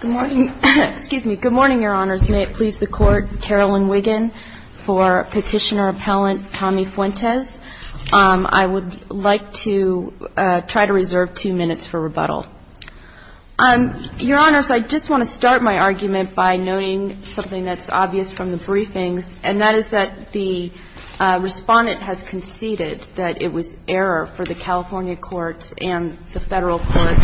Good morning, Your Honors. May it please the Court, Carolyn Wiggin for Petitioner-Appellant Tommy Fuentes. I would like to try to reserve two minutes for rebuttal. Your Honors, I just want to start my argument by noting something that's obvious from the briefings, and that is that the Respondent has conceded that it was error for the California courts and the Federal courts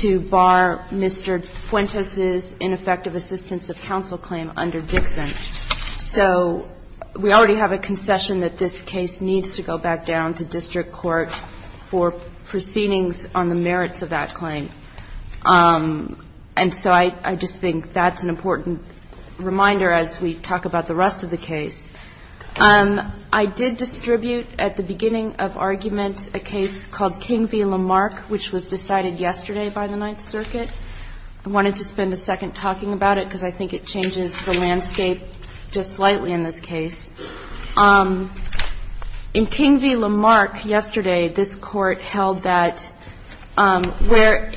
to bar Mr. Fuentes' ineffective assistance of counsel claim under Dixon. So we already have a concession that this case needs to go back down to district court for proceedings on the merits of that claim. And so I just think that's an important reminder as we talk about the rest of the case. I did distribute at the beginning of argument a case called King v. Lamarck, which was decided yesterday by the Ninth Circuit. I wanted to spend a second talking about it, because I think it changes the landscape just slightly in this case. In King v. Lamarck yesterday, this Court held that where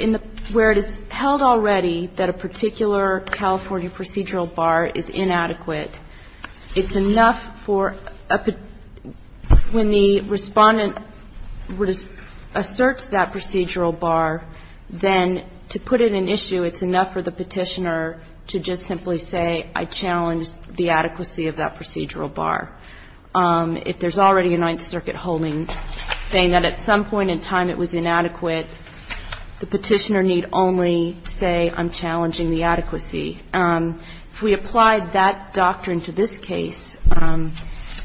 it is held already that a particular California procedural bar is inadequate, it's enough for a – when the Respondent asserts that procedural bar, then to put it in issue, it's enough for the Petitioner to just simply say, I challenge the adequacy of that procedural bar. If there's already a Ninth Circuit holding saying that at some point in time it was inadequate, the Petitioner need only say, I'm challenging the adequacy. If we apply that doctrine to this case,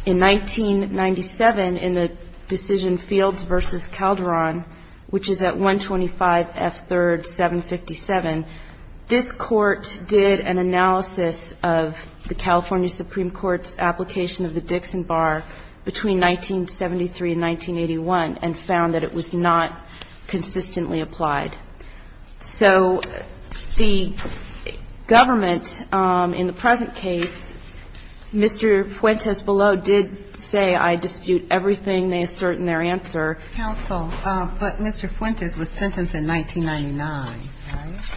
in 1997 in the decision Fields v. Calderon, which is at 125F3rd 757, this Court did an analysis of the California Supreme Court's application of the Dixon bar between 1973 and 1981 and found that it was not consistently applied. So the government in the present case, Mr. Fuentes below, did say, I dispute everything they assert in their answer. Counsel, but Mr. Fuentes was sentenced in 1999, right?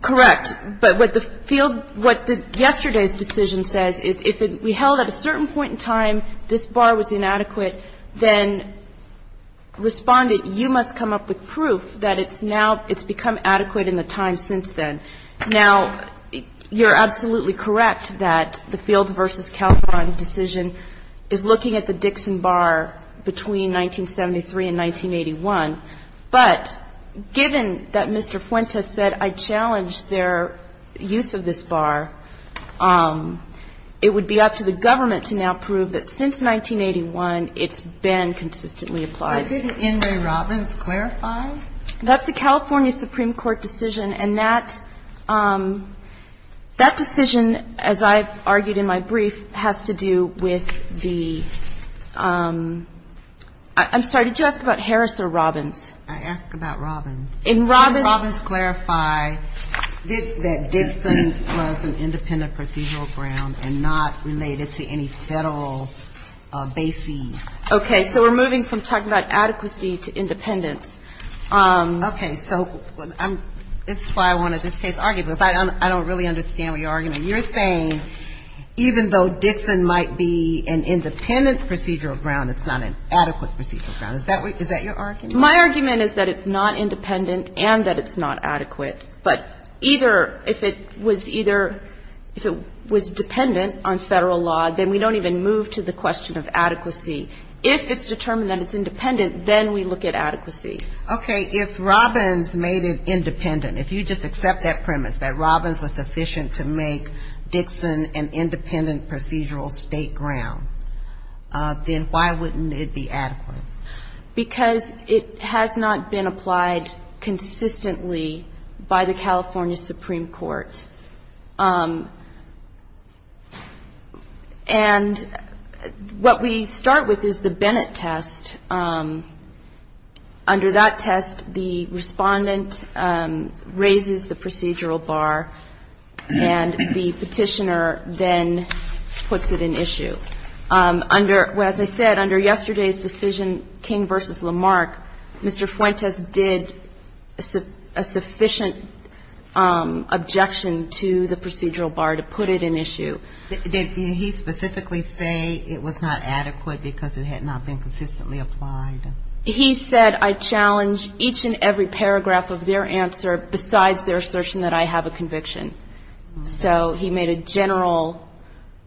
Correct. But what the Field – what yesterday's decision says is if it – we held at a certain point in time this bar was inadequate, then Respondent, you must come up with proof that it's now – it's become adequate in the time since then. Now, you're absolutely correct that the Fields v. Calderon decision is looking at the Dixon bar between 1973 and 1981. But given that Mr. Fuentes said, I challenge their use of this bar, it would be up to the government to now prove that since 1981, it's been consistently applied. But didn't Enri Robbins clarify? That's a California Supreme Court decision, and that – that decision, as I've argued in my brief, has to do with the – I'm sorry, did you ask about Harris or Robbins? I asked about Robbins. In Robbins – Didn't Robbins clarify that Dixon was an independent procedural ground and not related to any Federal bases? Okay. So we're moving from talking about adequacy to independence. Okay. So I'm – this is why I wanted this case argued, because I don't really understand what you're arguing. You're saying even though Dixon might be an independent procedural ground, it's not an adequate procedural ground. Is that what – is that your argument? My argument is that it's not independent and that it's not adequate. But either – if it was either – if it was dependent on Federal law, then we don't even move to the question of adequacy. If it's determined that it's independent, then we look at adequacy. Okay. If Robbins made it independent, if you just accept that premise, that Robbins was sufficient to make Dixon an independent procedural state ground, then why wouldn't it be adequate? Because it has not been applied consistently by the California Supreme Court. And what we start with is the Bennett test. Under that test, the Respondent raises the procedural bar, and the Petitioner then puts it in issue. Under – as I said, under yesterday's decision, King v. Lamarck, Mr. Fuentes did a sufficient objection to the procedural bar to put it in issue. Did he specifically say it was not adequate because it had not been consistently applied? He said, I challenge each and every paragraph of their answer besides their assertion that I have a conviction. So he made a general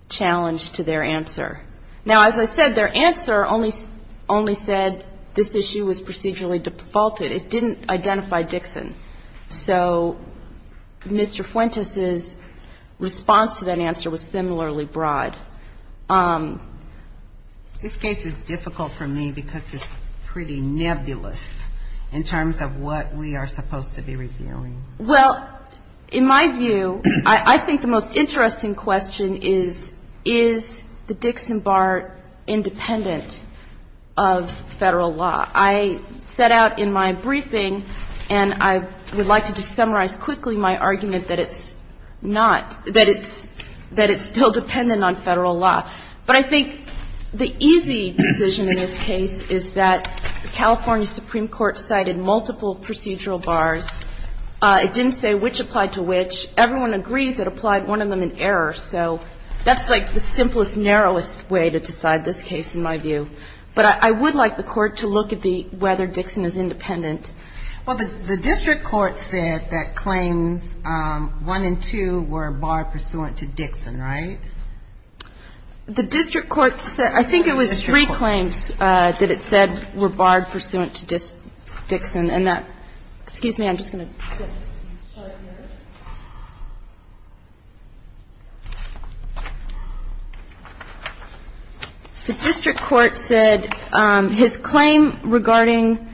challenge to their answer. Now, as I said, their answer only said this issue was procedurally defaulted. It didn't identify Dixon. So Mr. Fuentes' response to that answer was similarly broad. This case is difficult for me because it's pretty nebulous in terms of what we are supposed to be reviewing. Well, in my view, I think the most interesting question is, is the Dixon bar independent of Federal law? I set out in my briefing, and I would like to just summarize quickly my argument that it's not – that it's still dependent on Federal law. But I think the easy decision in this case is that the California Supreme Court cited multiple procedural bars. It didn't say which applied to which. Everyone agrees it applied one of them in But I would like the Court to look at the – whether Dixon is independent. Well, the district court said that claims 1 and 2 were barred pursuant to Dixon, right? The district court said – I think it was three claims that it said were barred pursuant to Dixon, and that – excuse me, I'm just going to get a chart here. The district court said his claim regarding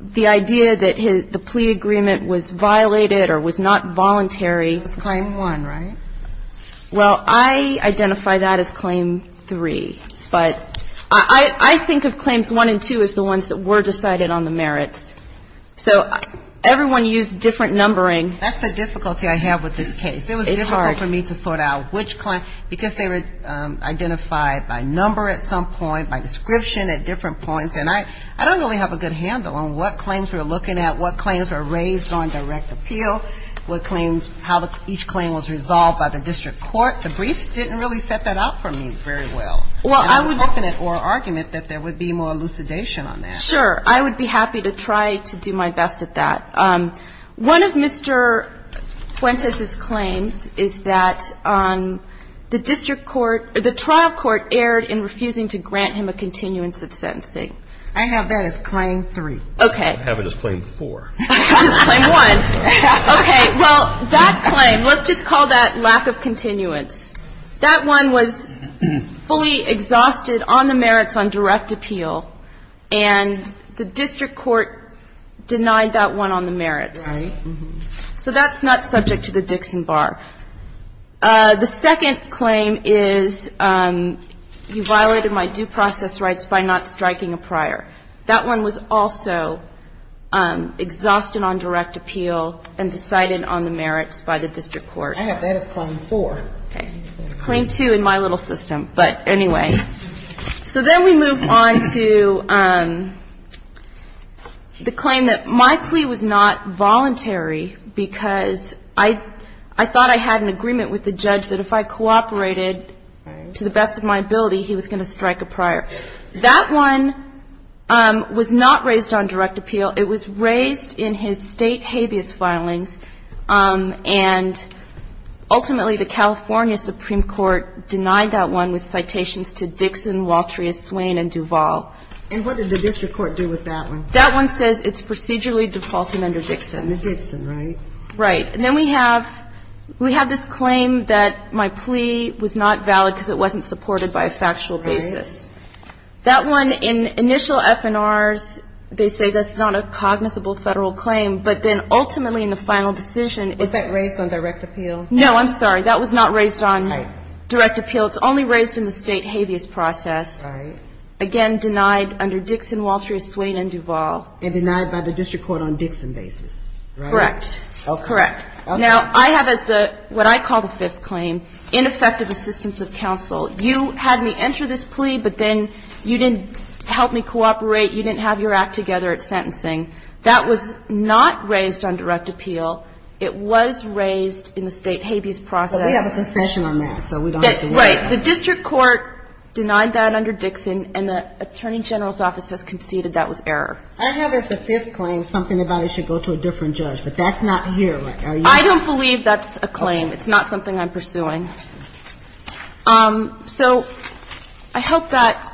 the idea that the plea agreement was violated or was not voluntary Was claim 1, right? Well, I identify that as claim 3. But I think of claims 1 and 2 as the ones that were decided on the merits. So everyone used different numbering. That's the difficulty I have with this case. It's hard. for me to sort out which claim – because they were identified by number at some point, by description at different points. And I don't really have a good handle on what claims we're looking at, what claims were raised on direct appeal, what claims – how each claim was resolved by the district court. The briefs didn't really set that up for me very well. And I was hoping at oral argument that there would be more elucidation on that. Sure. I would be happy to try to do my best at that. One of Mr. Fuentes' claims is that the district court – the trial court erred in refusing to grant him a continuance of sentencing. I have that as claim 3. Okay. I have it as claim 4. I have it as claim 1. Okay. Well, that claim, let's just call that lack of continuance. That one was fully exhausted on the merits on direct appeal, and the district court denied that one on the merits. Right. So that's not subject to the Dixon Bar. The second claim is you violated my due process rights by not striking a prior. That one was also exhausted on direct appeal and decided on the merits by the district court. I have that as claim 4. Okay. It's claim 2 in my little system. But anyway. So then we move on to the claim that my plea was not voluntary because I thought I had an agreement with the judge that if I cooperated to the best of my ability, he was going to strike a prior. That one was not raised on direct appeal. It was raised in his state habeas filings, and ultimately the California Supreme Court denied that one with citations to Dixon, Walter, Swain, and Duval. And what did the district court do with that one? That one says it's procedurally defaulting under Dixon. Under Dixon, right? Right. And then we have this claim that my plea was not valid because it wasn't supported by a factual basis. Right. That one, in initial F&Rs, they say that's not a cognizable Federal claim. But then ultimately in the final decision ---- Was that raised on direct appeal? No. I'm sorry. That was not raised on direct appeal. It's only raised in the state habeas process. Right. Again, denied under Dixon, Walter, Swain, and Duval. And denied by the district court on Dixon basis, right? Correct. Correct. Now, I have as the what I call the fifth claim, ineffective assistance of counsel. You had me enter this plea, but then you didn't help me cooperate. You didn't have your act together at sentencing. That was not raised on direct appeal. It was raised in the state habeas process. But we have a concession on that, so we don't have to worry about that. Right. The district court denied that under Dixon, and the Attorney General's office has conceded that was error. I have as the fifth claim something about it should go to a different judge. But that's not here, right? Are you ---- I don't believe that's a claim. Okay. It's not something I'm pursuing. So I hope that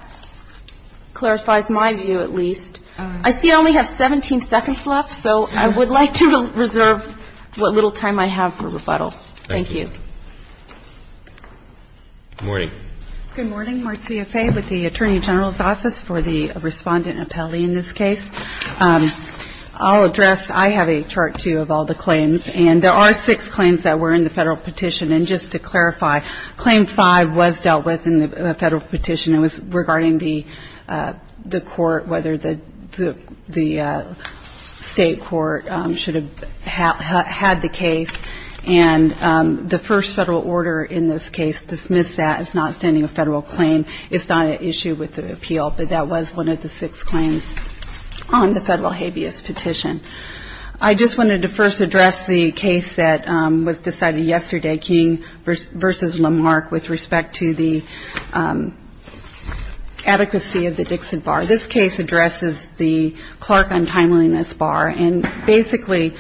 clarifies my view at least. I see I only have 17 seconds left, so I would like to reserve what little time I have for rebuttal. Thank you. Thank you. Good morning. Good morning. Marcia Fay with the Attorney General's office for the respondent appellee in this case. I'll address ---- I have a chart, too, of all the claims. And there are six claims that were in the Federal petition. And just to clarify, claim five was dealt with in the Federal petition. It was regarding the court, whether the state court should have had the case. And the first Federal order in this case dismissed that as not standing a Federal claim. It's not an issue with the appeal, but that was one of the six claims on the Federal habeas petition. I just wanted to first address the case that was decided yesterday. King v. Lamarck with respect to the adequacy of the Dixon bar. This case addresses the Clark untimeliness bar and basically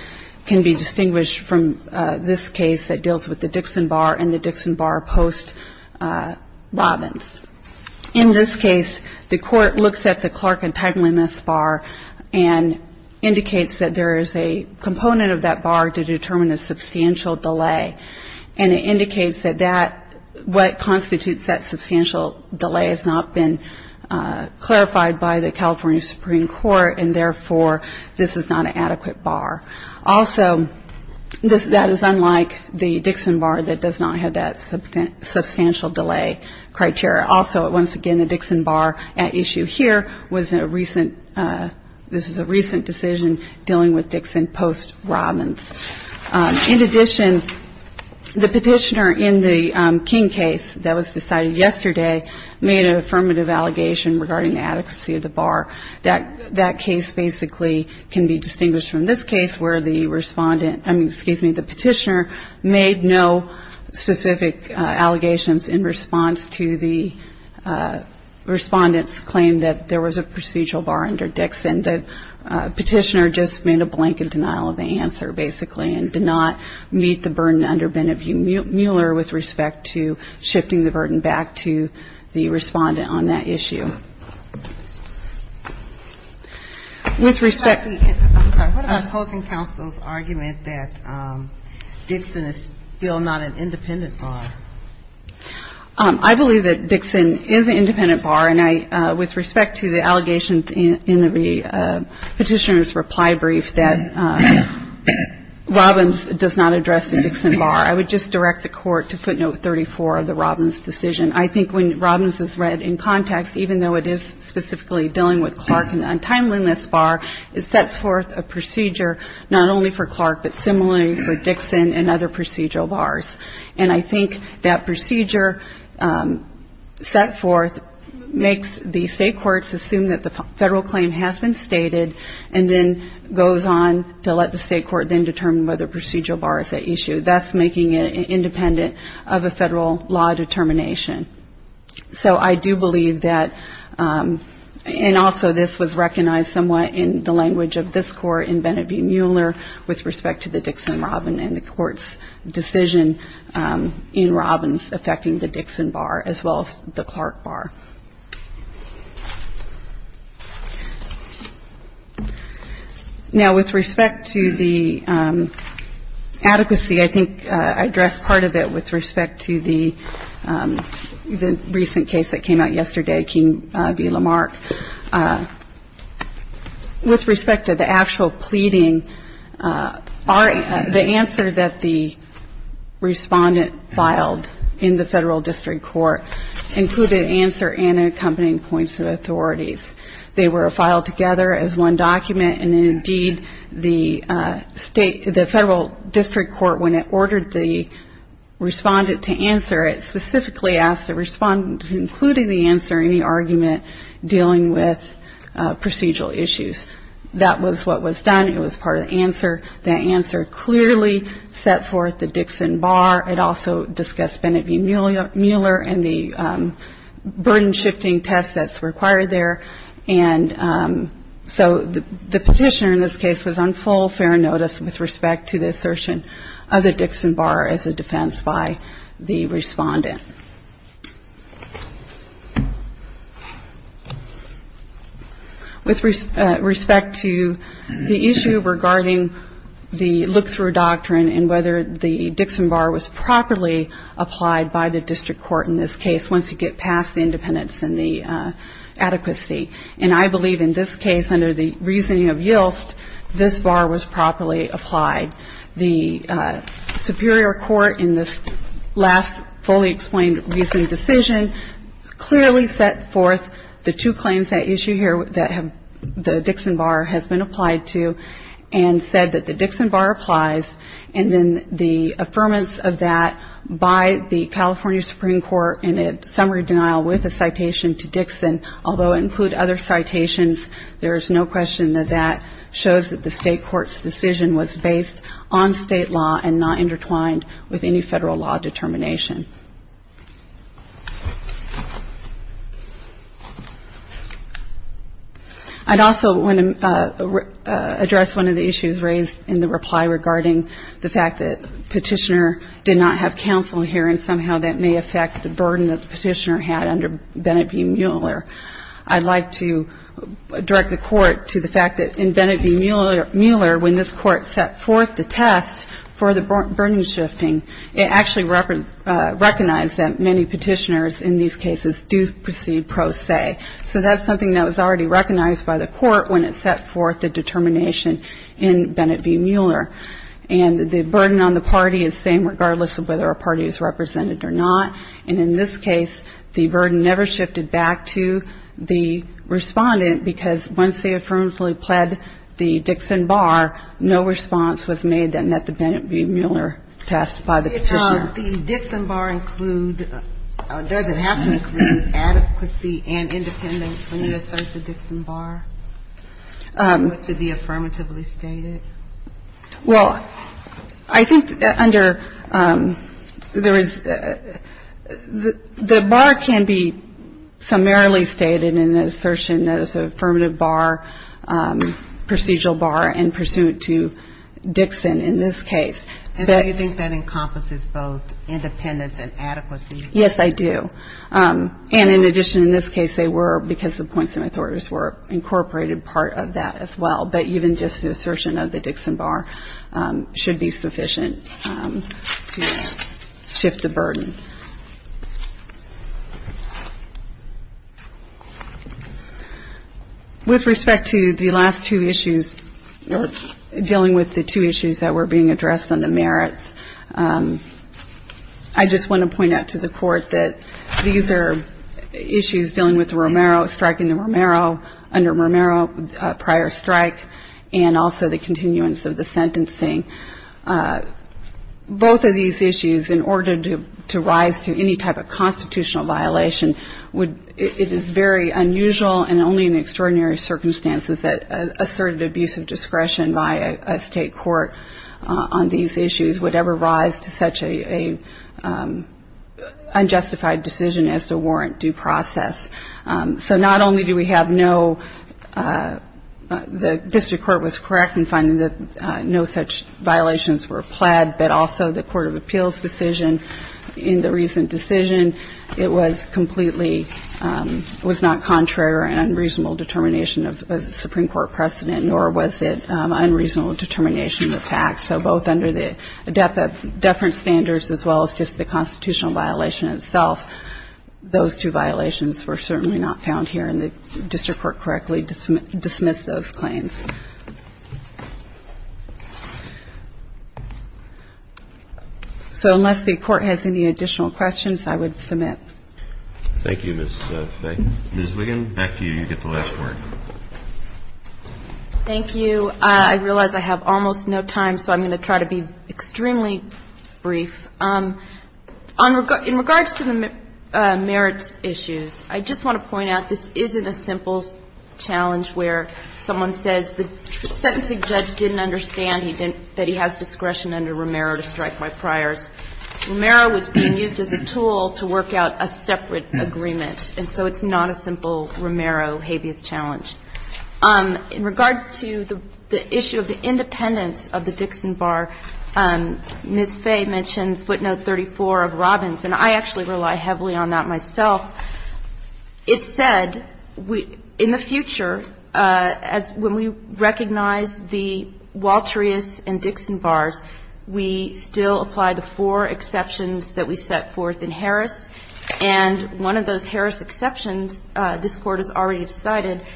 can be distinguished from this case that deals with the Dixon bar and the Dixon bar post-Robbins. In this case, the court looks at the Clark untimeliness bar and indicates that there is a component of that bar to determine a substantial delay. And it indicates that what constitutes that substantial delay has not been clarified by the California Supreme Court, and therefore this is not an adequate bar. Also, that is unlike the Dixon bar that does not have that substantial delay criteria. Also, once again, the Dixon bar at issue here was a recent, this is a recent decision dealing with Dixon post-Robbins. In addition, the petitioner in the King case that was decided yesterday made an affirmative allegation regarding the adequacy of the bar. That case basically can be distinguished from this case where the respondent, excuse me, the petitioner made no specific allegations in response to the respondent's claim that there was a procedural bar under Dixon. The petitioner just made a blanket denial of the answer, basically, and did not meet the burden under Bennett Mueller with respect to shifting the burden back to the respondent on that issue. With respect to the opposing counsel's argument that Dixon is still not an independent bar. I believe that Dixon is an independent bar, and with respect to the allegations in the petitioner's reply brief that Robbins does not address the Dixon bar, I would just direct the Court to footnote 34 of the Robbins decision. I think when Robbins is read in context, even though it is specifically dealing with Clark and the untimeliness bar, it sets forth a procedure not only for Clark, but similarly for Dixon and other procedural bars. And I think that procedure set forth makes the state courts assume that the federal claim has been stated and then goes on to let the state court then determine whether procedural bar is at issue, thus making it independent of a federal law determination. So I do believe that, and also this was recognized somewhat in the language of this Court in Bennett v. Mueller with respect to the Dixon-Robbins and the Court's decision in Robbins affecting the Dixon bar as well as the Clark bar. Now, with respect to the adequacy, I think I addressed part of it with respect to the recent case that came out yesterday, King v. Lamarck. With respect to the actual pleading, the answer that the respondent filed in the federal district court included answer A, and accompanying points of authorities. They were filed together as one document, and indeed the federal district court, when it ordered the respondent to answer it, specifically asked the respondent to include in the answer any argument dealing with procedural issues. That was what was done. It was part of the answer. The petitioner in this case was on full fair notice with respect to the assertion of the Dixon bar as a defense by the respondent. With respect to the issue regarding the look-through doctrine and whether the Dixon bar was properly applied by the district court in this case once you get past the independence and the adequacy. And I believe in this case, under the reasoning of Yilst, this bar was properly applied. The superior court in this last fully explained reasoning decision clearly set forth the two claims that issue here that the Dixon bar has been applied to and said that the Dixon bar applies. And then the affirmance of that by the California Supreme Court in a summary denial with a citation to Dixon, although include other citations, there is no question that that shows that the state court's decision was based on state law and not intertwined with any federal law determination. I'd also want to address one of the issues raised in the reply regarding the fact that the petitioner did not have counsel here, and somehow that may affect the burden that the petitioner had under Bennett v. Mueller. I'd like to direct the Court to the fact that in Bennett v. Mueller, when this Court set forth the test for the burden shifting, it actually recognized that many petitioners in these cases do proceed pro se. So that's something that was already recognized by the Court when it set forth the determination in Bennett v. Mueller. And the burden on the party is the same regardless of whether a party is represented or not. And in this case, the burden never shifted back to the respondent, because once they affirmatively pled the Dixon bar, no response was made that met the Bennett v. Mueller test by the petitioner. The Dixon bar include or does it have to include adequacy and independence when you assert the Dixon bar, which would be affirmatively stated? The bar can be summarily stated in an assertion that is an affirmative bar, procedural bar, and pursuant to Dixon in this case. And so you think that encompasses both independence and adequacy? Yes, I do. And in addition, in this case, they were, because the points of authority were incorporated part of that as well. But even just the assertion of the Dixon bar should be sufficient to shift the burden. With respect to the last two issues, dealing with the two issues that were being addressed on the merits, I just want to point out to the Court that these are issues dealing with Romero, striking the Romero, under Romero prior strike, and also the continuance of the sentencing. Both of these issues, in order to rise to any type of constitutional violation, it is very unusual and only in extraordinary circumstances that asserted abuse of discretion by a state court on these issues would ever rise to such a unjustified decision as to warrant due process. So not only do we have no, the district court was correct in finding that no such violations were pled, but also the Court of Appeals decision in the recent decision, it was completely, was not contrary or unreasonable determination of Supreme Court precedent, nor was it unreasonable determination of facts. So both under the deference standards, as well as just the constitutional violation itself, those two violations were certainly not found here, and the district court correctly dismissed those claims. So unless the Court has any additional questions, I would submit. Thank you, Ms. Wiggin. Back to you. You get the last word. Thank you. I realize I have almost no time, so I'm going to try to be extremely brief. In regards to the merits issues, I just want to point out this isn't a simple challenge where someone says the sentencing judge didn't understand that he has discretion under Romero to strike my priors. Romero was being used as a tool to work out a separate agreement, and so it's not a simple Romero habeas challenge. In regard to the issue of the independence of the Dixon Bar, Ms. Fay mentioned footnote 34 of Robbins, and I actually rely heavily on that myself. It said, in the future, as when we recognize the Walterius and Dixon Bars, we still apply the four exceptions that we set forth in Harris, and one of those Harris exceptions, this Court did not recognize, is that the Dixon Bar, which is a bar that is already decided,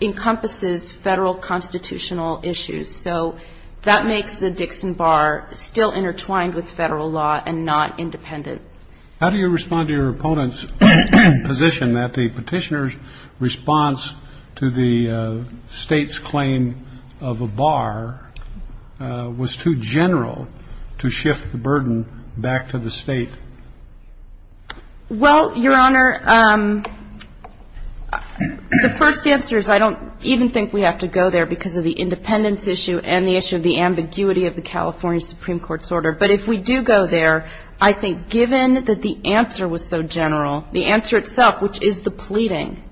encompasses Federal constitutional issues. So that makes the Dixon Bar still intertwined with Federal law and not independent. How do you respond to your opponent's position that the Petitioner's response to the State's claim of a bar was too general to shift the burden back to the State? Well, Your Honor, the first answer is I don't even think we have to go there because of the independence issue and the issue of the ambiguity of the California Supreme Court's order. But if we do go there, I think given that the answer was so general, the answer itself, which is the pleading,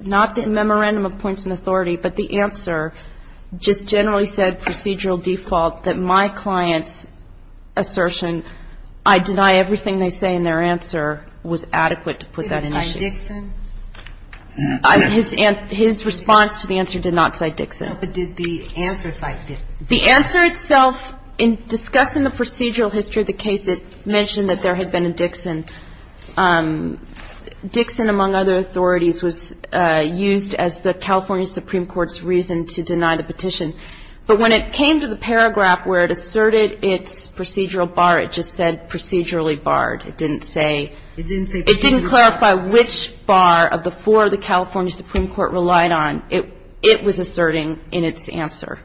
not the memorandum of points and authority, but the answer, just generally said procedural default that my client's assertion, I deny everything they say in their answer, was adequate to put that in issue. Did it cite Dixon? His response to the answer did not cite Dixon. No, but did the answer cite Dixon? The answer itself, in discussing the procedural history of the case, it mentioned that there had been a Dixon. Dixon, among other things, was not a procedural bar. It didn't say procedural bar. It didn't say procedural bar. It didn't clarify which bar of the four the California Supreme Court relied on. It was asserting in its answer.